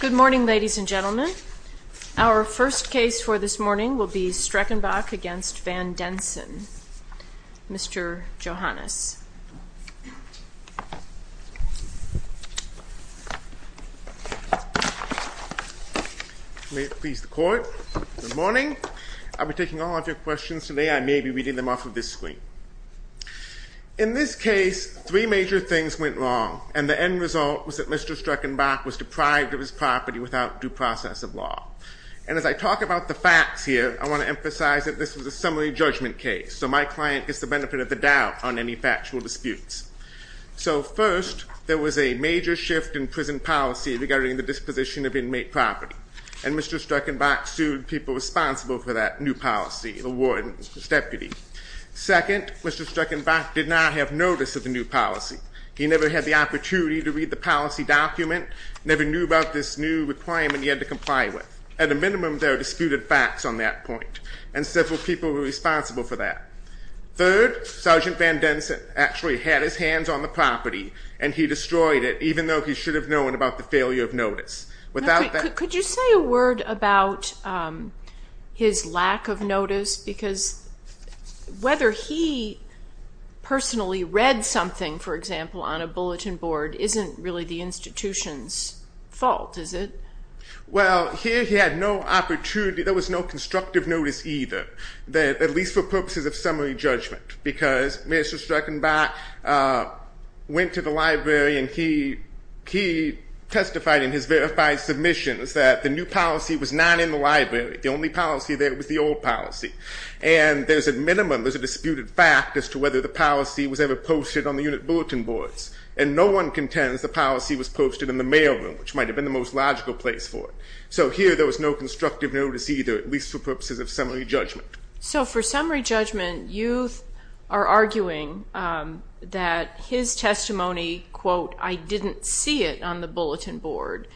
Good morning, ladies and gentlemen. Our first case for this morning will be Streckenbach v. Van Densen. Mr. Johannes. May it please the court. Good morning. I'll be taking all of your questions today. I may be reading them off of this screen. In this case, three major things went wrong, and the end result was that Mr. Streckenbach was deprived of his property without due process of law. And as I talk about the facts here, I want to emphasize that this was a summary judgment case, so my client gets the benefit of the doubt on any factual disputes. So first, there was a major shift in prison policy regarding the disposition of inmate property, and Mr. Streckenbach sued people responsible for that new policy, the warden, his deputy. Second, Mr. Streckenbach did not have notice of the new policy. He never had the opportunity to read the policy document, never knew about this new requirement he had to comply with. At a minimum, there are disputed facts on that point, and several people were responsible for that. Third, Sergeant Van Densen actually had his hands on the property, and he destroyed it, even though he should have known about the failure of notice. Could you say a word about his lack of notice? Because whether he personally read something, for example, on a bulletin board, isn't really the institution's fault, is it? Well, here he had no opportunity, there was no constructive notice either, at least for purposes of summary judgment. Because Mr. Streckenbach went to the library, and he testified in his verified submissions that the new policy was not in the library. The only policy there was the old policy. And there's a minimum, there's a disputed fact as to whether the policy was ever posted on the unit bulletin boards. And no one contends the policy was posted in the mail room, which might have been the most logical place for it. So here there was no constructive notice either, at least for purposes of summary judgment. So for summary judgment, you are arguing that his testimony, quote, I didn't see it on the bulletin board,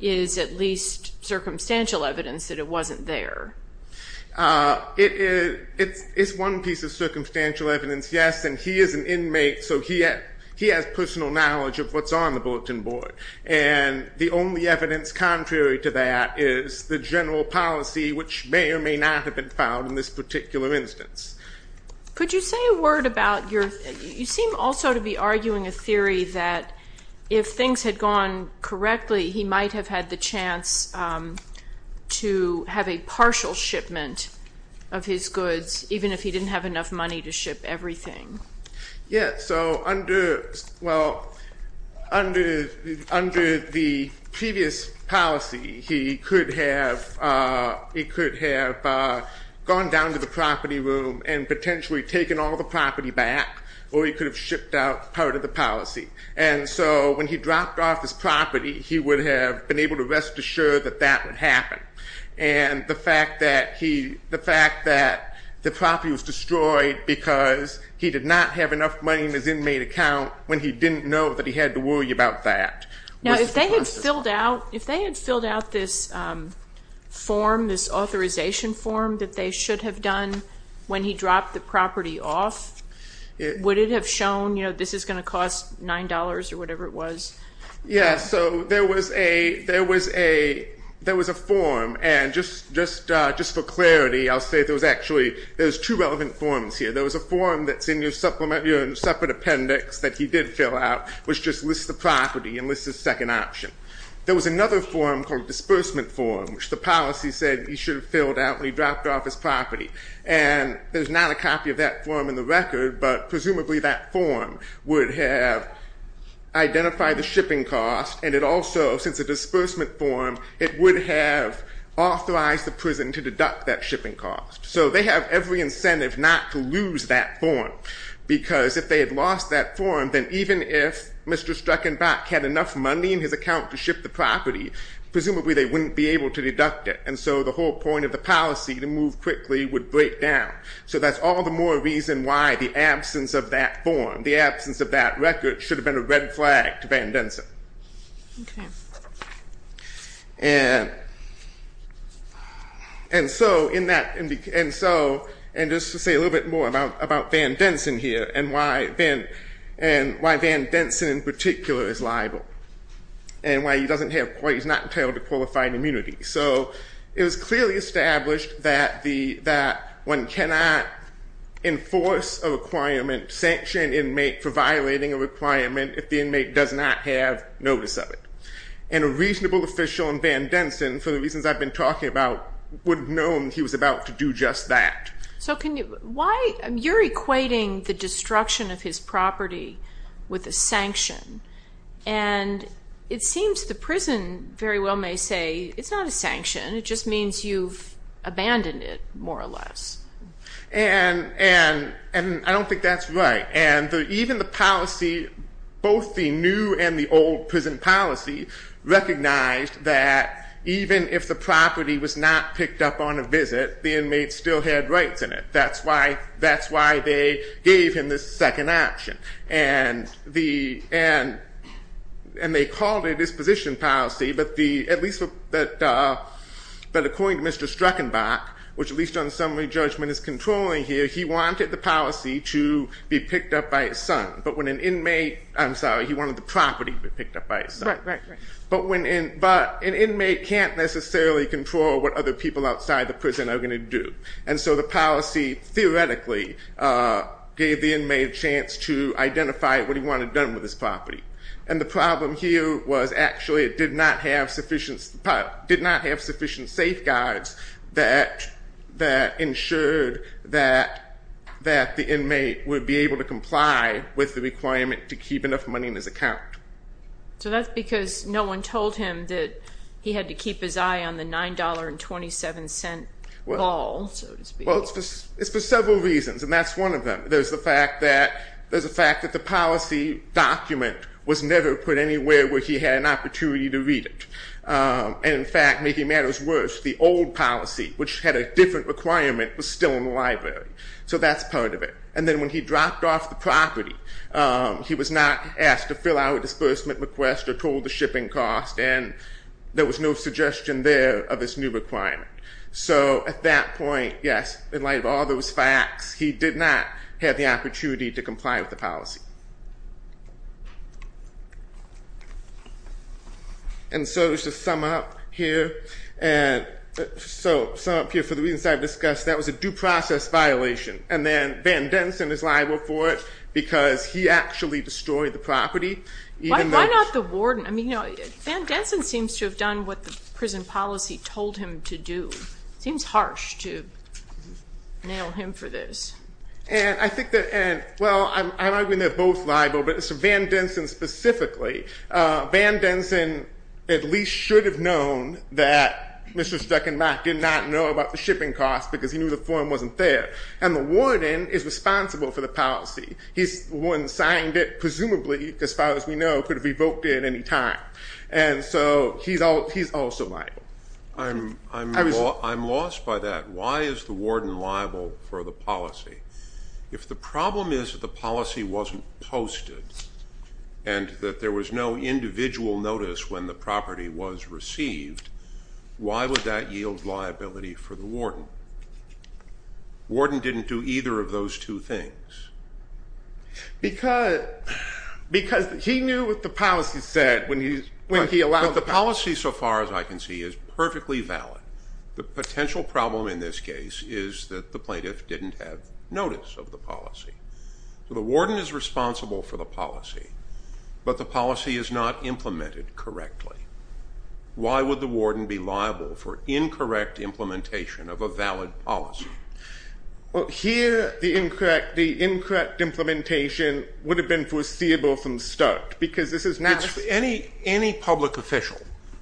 is at least circumstantial evidence that it wasn't there. It's one piece of circumstantial evidence, yes, and he is an inmate, so he has personal knowledge of what's on the bulletin board. And the only evidence contrary to that is the general policy, which may or may not have been found in this particular instance. Could you say a word about your, you seem also to be arguing a theory that if things had gone correctly, he might have had the chance to have a partial shipment of his goods, even if he didn't have enough money to ship everything. Yes, so under, well, under the previous policy, he could have gone down to the property room and potentially taken all the property back or he could have shipped out part of the policy. And so when he dropped off his property, he would have been able to rest assured that that would happen. And the fact that he, the fact that the property was destroyed because he did not have enough money in his inmate account when he didn't know that he had to worry about that. Now, if they had filled out, if they had filled out this form, this authorization form that they should have done when he dropped the property off, would it have shown, you know, this is going to cost $9 or whatever it was? Yeah, so there was a, there was a, there was a form and just, just, just for clarity, I'll say there was actually, there's two relevant forms here. There was a form that's in your supplement, your separate appendix that he did fill out, which just lists the property and lists his second option. There was another form called disbursement form, which the policy said he should have filled out when he dropped off his property. And there's not a copy of that form in the record, but presumably that form would have identified the shipping cost. And it also, since a disbursement form, it would have authorized the prison to deduct that shipping cost. So they have every incentive not to lose that form because if they had lost that form, then even if Mr. Struckenbach had enough money in his account to ship the property, presumably they wouldn't be able to deduct it. And so the whole point of the policy to move quickly would break down. So that's all the more reason why the absence of that form, the absence of that record, should have been a red flag to Van Densen. Okay. And, and so in that, and so, and just to say a little bit more about Van Densen here and why Van, and why Van Densen in particular is liable. And why he doesn't have, why he's not entitled to qualified immunity. So it was clearly established that the, that one cannot enforce a requirement, sanction an inmate for violating a requirement if the inmate does not have notice of it. And a reasonable official in Van Densen, for the reasons I've been talking about, would have known he was about to do just that. So can you, why, you're equating the destruction of his property with a sanction. And it seems the prison very well may say, it's not a sanction, it just means you've abandoned it, more or less. And, and, and I don't think that's right. And even the policy, both the new and the old prison policy, recognized that even if the property was not picked up on a visit, the inmate still had rights in it. That's why, that's why they gave him this second option. And the, and, and they called it disposition policy, but the, at least, but according to Mr. Struckenbach, which at least on summary judgment is controlling here, he wanted the policy to be picked up by his son. But when an inmate, I'm sorry, he wanted the property to be picked up by his son. Right, right, right. But when, but an inmate can't necessarily control what other people outside the prison are going to do. And so the policy theoretically gave the inmate a chance to identify what he wanted done with his property. And the problem here was actually it did not have sufficient, did not have sufficient safeguards that, that ensured that, that the inmate would be able to comply with the requirement to keep enough money in his account. So that's because no one told him that he had to keep his eye on the $9.27 ball, so to speak. Well, it's for several reasons, and that's one of them. There's the fact that, there's the fact that the policy document was never put anywhere where he had an opportunity to read it. And in fact, making matters worse, the old policy, which had a different requirement, was still in the library. So that's part of it. And then when he dropped off the property, he was not asked to fill out a disbursement request or told the shipping cost, and there was no suggestion there of this new requirement. So at that point, yes, in light of all those facts, he did not have the opportunity to comply with the policy. And so just to sum up here, and so, sum up here, for the reasons I've discussed, that was a due process violation. And then Van Denson is liable for it because he actually destroyed the property. Why, why not the warden? I mean, you know, Van Denson seems to have done what the prison policy told him to do. It seems harsh to nail him for this. And I think that, and, well, I'm arguing they're both liable, but it's Van Denson specifically. Van Denson at least should have known that Mr. Steckenbach did not know about the shipping cost because he knew the form wasn't there. And the warden is responsible for the policy. He's the one that signed it, presumably, as far as we know, could have revoked it at any time. And so he's also liable. I'm lost by that. Why is the warden liable for the policy? If the problem is that the policy wasn't posted and that there was no individual notice when the property was received, why would that yield liability for the warden? The warden didn't do either of those two things. Because, because he knew what the policy said when he, when he allowed. But the policy, so far as I can see, is perfectly valid. The potential problem in this case is that the plaintiff didn't have notice of the policy. So the warden is responsible for the policy, but the policy is not implemented correctly. Why would the warden be liable for incorrect implementation of a valid policy? Well, here the incorrect, the incorrect implementation would have been foreseeable from the start because this is not. Any, any public official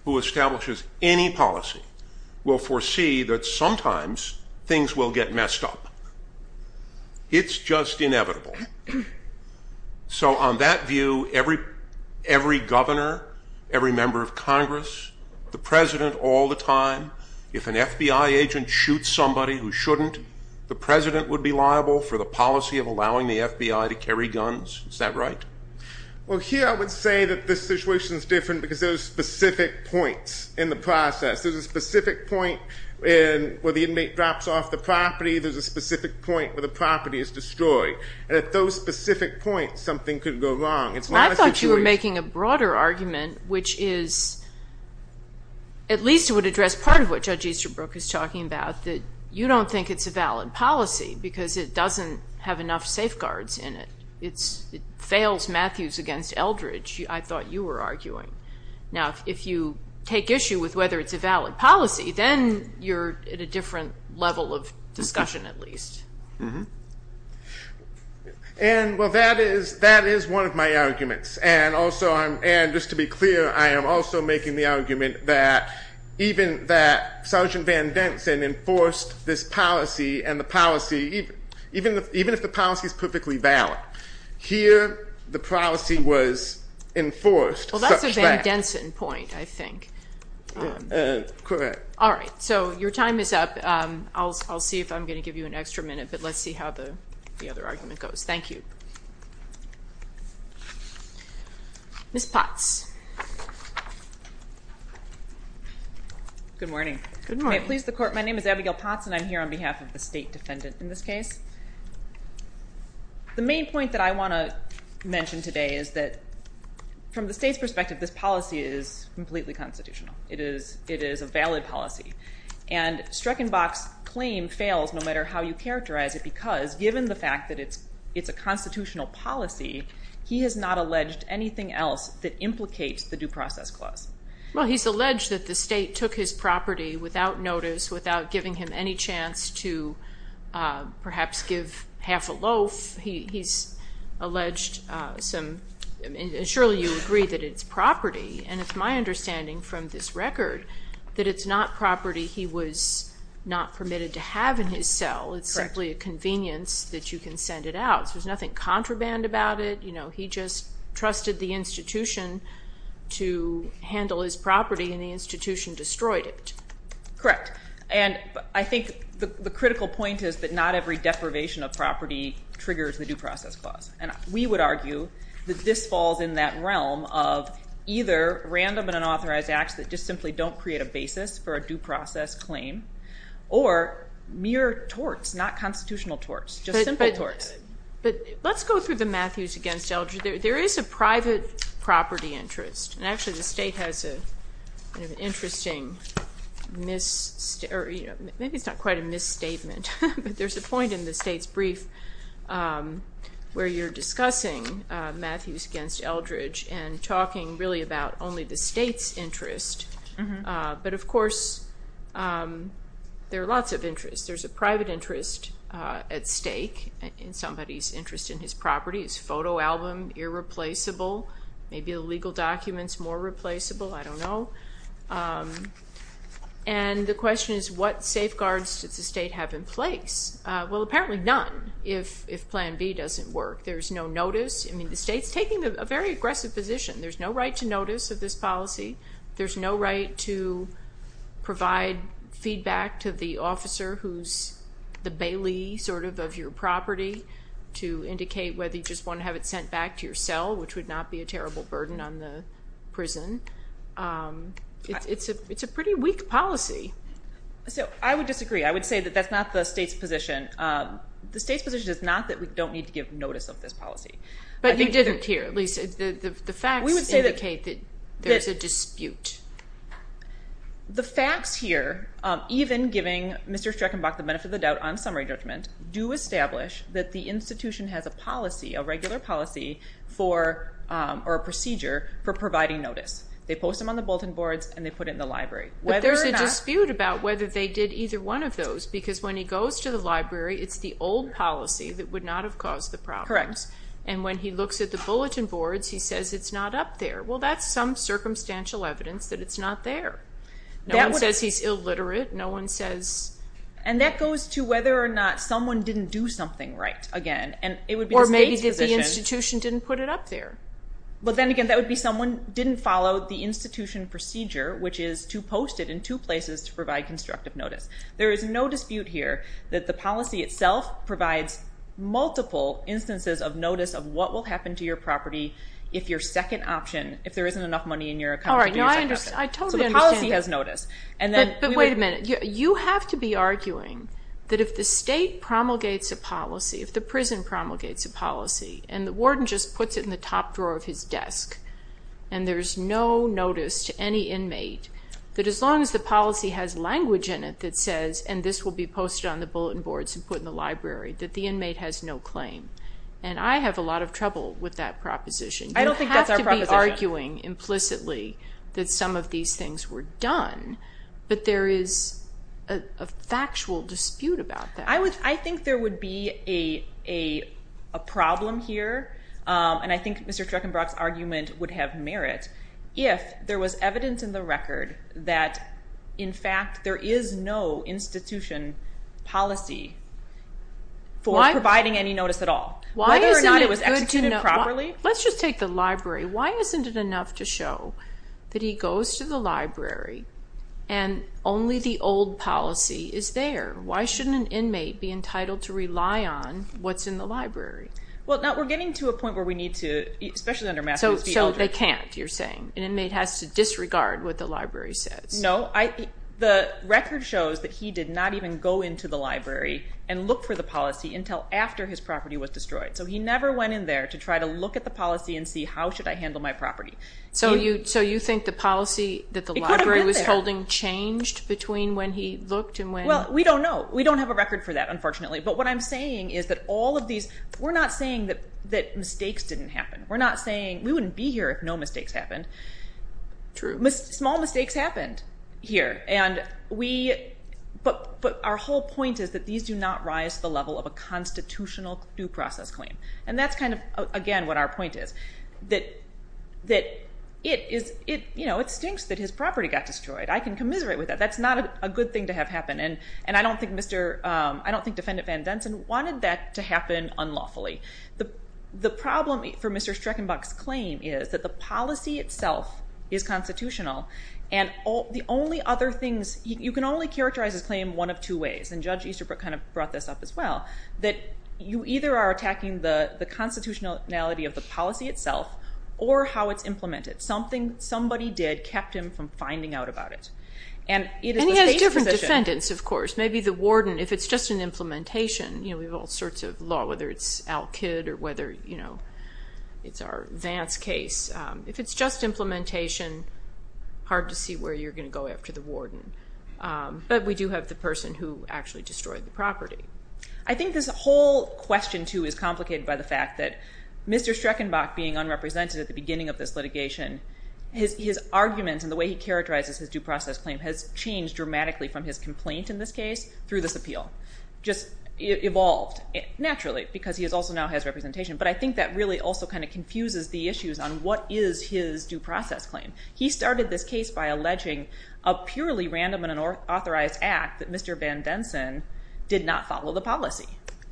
who establishes any policy will foresee that sometimes things will get messed up. It's just inevitable. So on that view, every, every governor, every member of Congress, the president all the time, if an FBI agent shoots somebody who shouldn't, the president would be liable for the policy of allowing the FBI to carry guns. Is that right? Well, here I would say that this situation is different because there are specific points in the process. There's a specific point where the inmate drops off the property. There's a specific point where the property is destroyed. And at those specific points, something could go wrong. It's not a situation. I thought you were making a broader argument, which is, at least it would address part of what Judge Easterbrook is talking about, that you don't think it's a valid policy because it doesn't have enough safeguards in it. It's, it fails Matthews against Eldridge. I thought you were arguing. Now, if you take issue with whether it's a valid policy, then you're at a different level of discussion at least. Mm-hmm. And, well, that is, that is one of my arguments. And also I'm, and just to be clear, I am also making the argument that even that Sergeant Van Denson enforced this policy and the policy, even if the policy is perfectly valid, here the policy was enforced. Well, that's a Van Denson point, I think. Correct. All right. So your time is up. I'll see if I'm going to give you an extra minute, but let's see how the other argument goes. Ms. Potts. Good morning. Good morning. My name is Abigail Potts and I'm here on behalf of the state defendant in this case. The main point that I want to mention today is that from the state's perspective, this policy is completely constitutional. It is, it is a valid policy. And Streckenbach's claim fails no matter how you characterize it because given the fact that it's, it's a constitutional policy, he has not alleged anything else that implicates the due process clause. Well, he's alleged that the state took his property without notice, without giving him any chance to perhaps give half a loaf. He's alleged some, and surely you agree that it's property, and it's my understanding from this record that it's not property he was not permitted to have in his cell. It's simply a convenience that you can send it out. There's nothing contraband about it. You know, he just trusted the institution to handle his property and the institution destroyed it. Correct. And I think the critical point is that not every deprivation of property triggers the due process clause. And we would argue that this falls in that realm of either random and unauthorized acts that just simply don't create a basis for a due process claim, or mere torts, not constitutional torts, just simple torts. Yes. But let's go through the Matthews against Eldridge. There is a private property interest, and actually the state has an interesting mis- or maybe it's not quite a misstatement, but there's a point in the state's brief where you're discussing Matthews against Eldridge and talking really about only the state's interest. But, of course, there are lots of interests. There's a private interest at stake in somebody's interest in his property. It's photo album, irreplaceable. Maybe the legal document's more replaceable. I don't know. And the question is, what safeguards does the state have in place? Well, apparently none if Plan B doesn't work. There's no notice. I mean, the state's taking a very aggressive position. There's no right to notice of this policy. There's no right to provide feedback to the officer who's the bailee sort of of your property to indicate whether you just want to have it sent back to your cell, which would not be a terrible burden on the prison. It's a pretty weak policy. So I would disagree. I would say that that's not the state's position. The state's position is not that we don't need to give notice of this policy. But you didn't here. The facts indicate that there's a dispute. The facts here, even giving Mr. Streckenbach the benefit of the doubt on summary judgment, do establish that the institution has a policy, a regular policy or a procedure for providing notice. They post them on the bulletin boards, and they put it in the library. But there's a dispute about whether they did either one of those because when he goes to the library, it's the old policy that would not have caused the problem. Correct. And when he looks at the bulletin boards, he says it's not up there. Well, that's some circumstantial evidence that it's not there. No one says he's illiterate. And that goes to whether or not someone didn't do something right again. Or maybe the institution didn't put it up there. But then again, that would be someone didn't follow the institution procedure, which is to post it in two places to provide constructive notice. There is no dispute here that the policy itself provides multiple instances of notice of what will happen to your property if your second option, if there isn't enough money in your account to do your second option. I totally understand. So the policy has notice. But wait a minute. You have to be arguing that if the state promulgates a policy, if the prison promulgates a policy, and the warden just puts it in the top drawer of his desk, and there's no notice to any inmate, that as long as the policy has language in it that says, and this will be posted on the bulletin boards and put in the library, that the inmate has no claim. And I have a lot of trouble with that proposition. I don't think that's our proposition. You have to be arguing implicitly that some of these things were done. But there is a factual dispute about that. I think there would be a problem here, and I think Mr. Streckenbrock's argument would have merit, if there was evidence in the record that, in fact, there is no institution policy for providing any notice at all, whether or not it was executed properly. Let's just take the library. Why isn't it enough to show that he goes to the library and only the old policy is there? Why shouldn't an inmate be entitled to rely on what's in the library? Well, now, we're getting to a point where we need to, especially under Massachusetts, be able to. But they can't, you're saying. An inmate has to disregard what the library says. No. The record shows that he did not even go into the library and look for the policy until after his property was destroyed. So he never went in there to try to look at the policy and see how should I handle my property. So you think the policy that the library was holding changed between when he looked and when? Well, we don't know. We don't have a record for that, unfortunately. But what I'm saying is that all of these, we're not saying that mistakes didn't happen. We're not saying we wouldn't be here if no mistakes happened. True. Small mistakes happened here. But our whole point is that these do not rise to the level of a constitutional due process claim. And that's kind of, again, what our point is. That it stinks that his property got destroyed. I can commiserate with that. That's not a good thing to have happen. And I don't think Defendant Van Densen wanted that to happen unlawfully. The problem for Mr. Streckenbach's claim is that the policy itself is constitutional and the only other things, you can only characterize his claim one of two ways, and Judge Easterbrook kind of brought this up as well, that you either are attacking the constitutionality of the policy itself or how it's implemented. Something somebody did kept him from finding out about it. And he has different defendants, of course. Maybe the warden, if it's just an implementation, we have all sorts of law, whether it's Al Kidd or whether it's our Vance case. If it's just implementation, hard to see where you're going to go after the warden. But we do have the person who actually destroyed the property. I think this whole question, too, is complicated by the fact that Mr. Streckenbach being unrepresented at the beginning of this litigation, his arguments and the way he characterizes his due process claim has changed dramatically from his complaint in this case through this appeal. Just evolved naturally because he also now has representation. But I think that really also kind of confuses the issues on what is his due process claim. He started this case by alleging a purely random and unauthorized act that Mr. Van Densen did not follow the policy.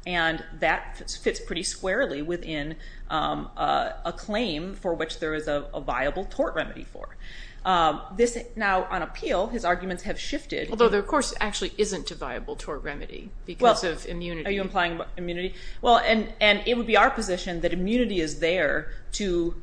And that fits pretty squarely within a claim for which there is a viable tort remedy for. Now, on appeal, his arguments have shifted. Although there, of course, actually isn't a viable tort remedy because of immunity. Are you implying immunity? Well, and it would be our position that immunity is there to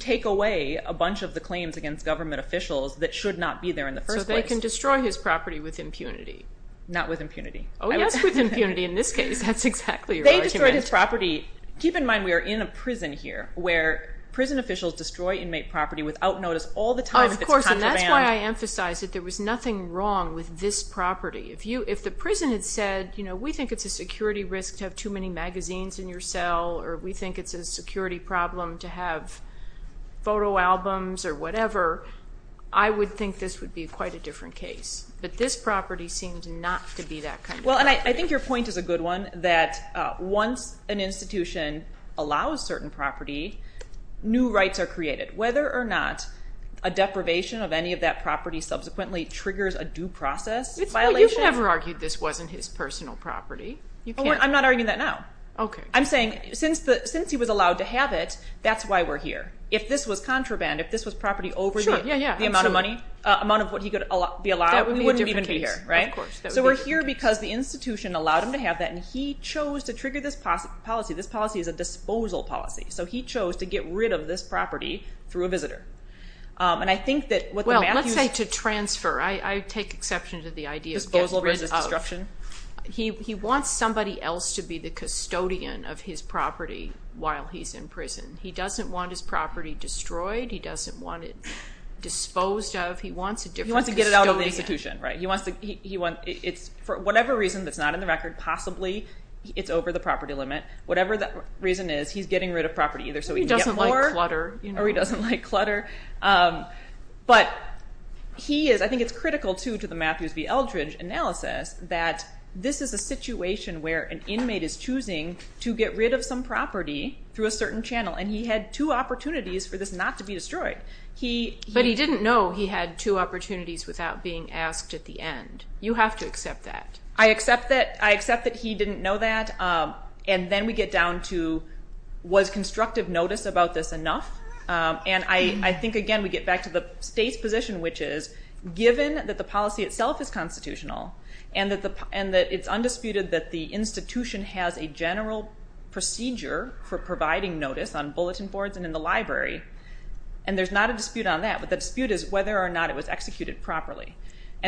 take away a bunch of the claims against government officials that should not be there in the first place. So they can destroy his property with impunity. Not with impunity. Oh, yes, with impunity in this case. That's exactly right. They destroyed his property. Keep in mind, we are in a prison here where prison officials destroy inmate property without notice all the time. Of course, and that's why I emphasize that there was nothing wrong with this property. If the prison had said, you know, we think it's a security risk to have too many magazines in your cell or we think it's a security problem to have photo albums or whatever, I would think this would be quite a different case. But this property seemed not to be that kind of property. Well, and I think your point is a good one, that once an institution allows certain property, new rights are created. Whether or not a deprivation of any of that property subsequently triggers a due process violation. You've never argued this wasn't his personal property. I'm not arguing that now. I'm saying since he was allowed to have it, that's why we're here. If this was contraband, if this was property over the amount of money, amount of what he could be allowed, we wouldn't even be here. So we're here because the institution allowed him to have that and he chose to trigger this policy. This policy is a disposal policy. So he chose to get rid of this property through a visitor. Well, let's say to transfer. I take exception to the idea of getting rid of. Disposal versus destruction. He wants somebody else to be the custodian of his property while he's in prison. He doesn't want his property destroyed. He doesn't want it disposed of. He wants a different custodian. He wants to get it out of the institution. For whatever reason that's not in the record, possibly it's over the property limit. Whatever the reason is, he's getting rid of property either so he can get more. He doesn't like clutter. Or he doesn't like clutter. But I think it's critical, too, to the Matthews v. Eldridge analysis that this is a situation where an inmate is choosing to get rid of some property through a certain channel, and he had two opportunities for this not to be destroyed. But he didn't know he had two opportunities without being asked at the end. You have to accept that. I accept that he didn't know that. Then we get down to was constructive notice about this enough? I think, again, we get back to the state's position, which is given that the policy itself is constitutional and that it's undisputed that the institution has a general procedure for providing notice on bulletin boards and in the library, and there's not a dispute on that, but the dispute is whether or not it was executed properly.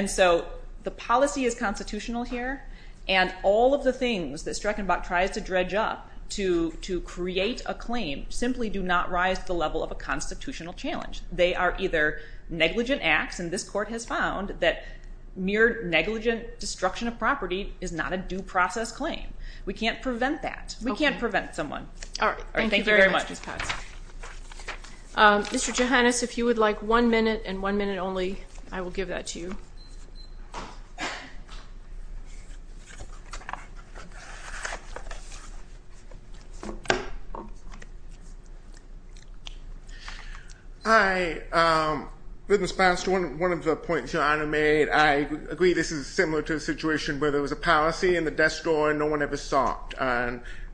So the policy is constitutional here, and all of the things that Streckenbach tries to dredge up to create a claim simply do not rise to the level of a constitutional challenge. They are either negligent acts, and this court has found that mere negligent destruction of property is not a due process claim. We can't prevent that. We can't prevent someone. Thank you very much. Mr. Johannes, if you would like one minute and one minute only, I will give that to you. Hi. In response to one of the points Your Honor made, I agree this is similar to a situation where there was a policy in the desk drawer and no one ever saw it.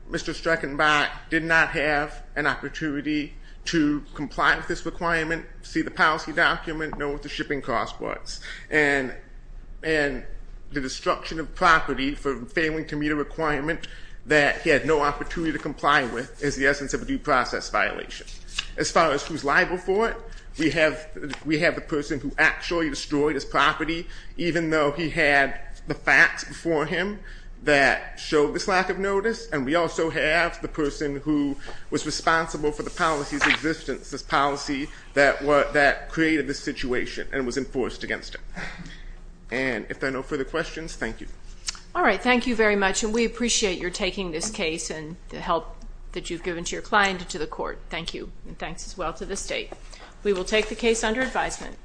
Mr. Streckenbach did not have an opportunity to comply with this requirement, see the policy document, know what the shipping cost was, and the destruction of property for failing to meet a requirement that he had no opportunity to comply with is the essence of a due process violation. As far as who's liable for it, we have the person who actually destroyed his property, even though he had the facts before him that showed this lack of notice, and we also have the person who was responsible for the policy's existence, this policy that created this situation and was enforced against it. And if there are no further questions, thank you. All right, thank you very much, and we appreciate your taking this case and the help that you've given to your client and to the court. Thank you, and thanks as well to the State. We will take the case under advisement.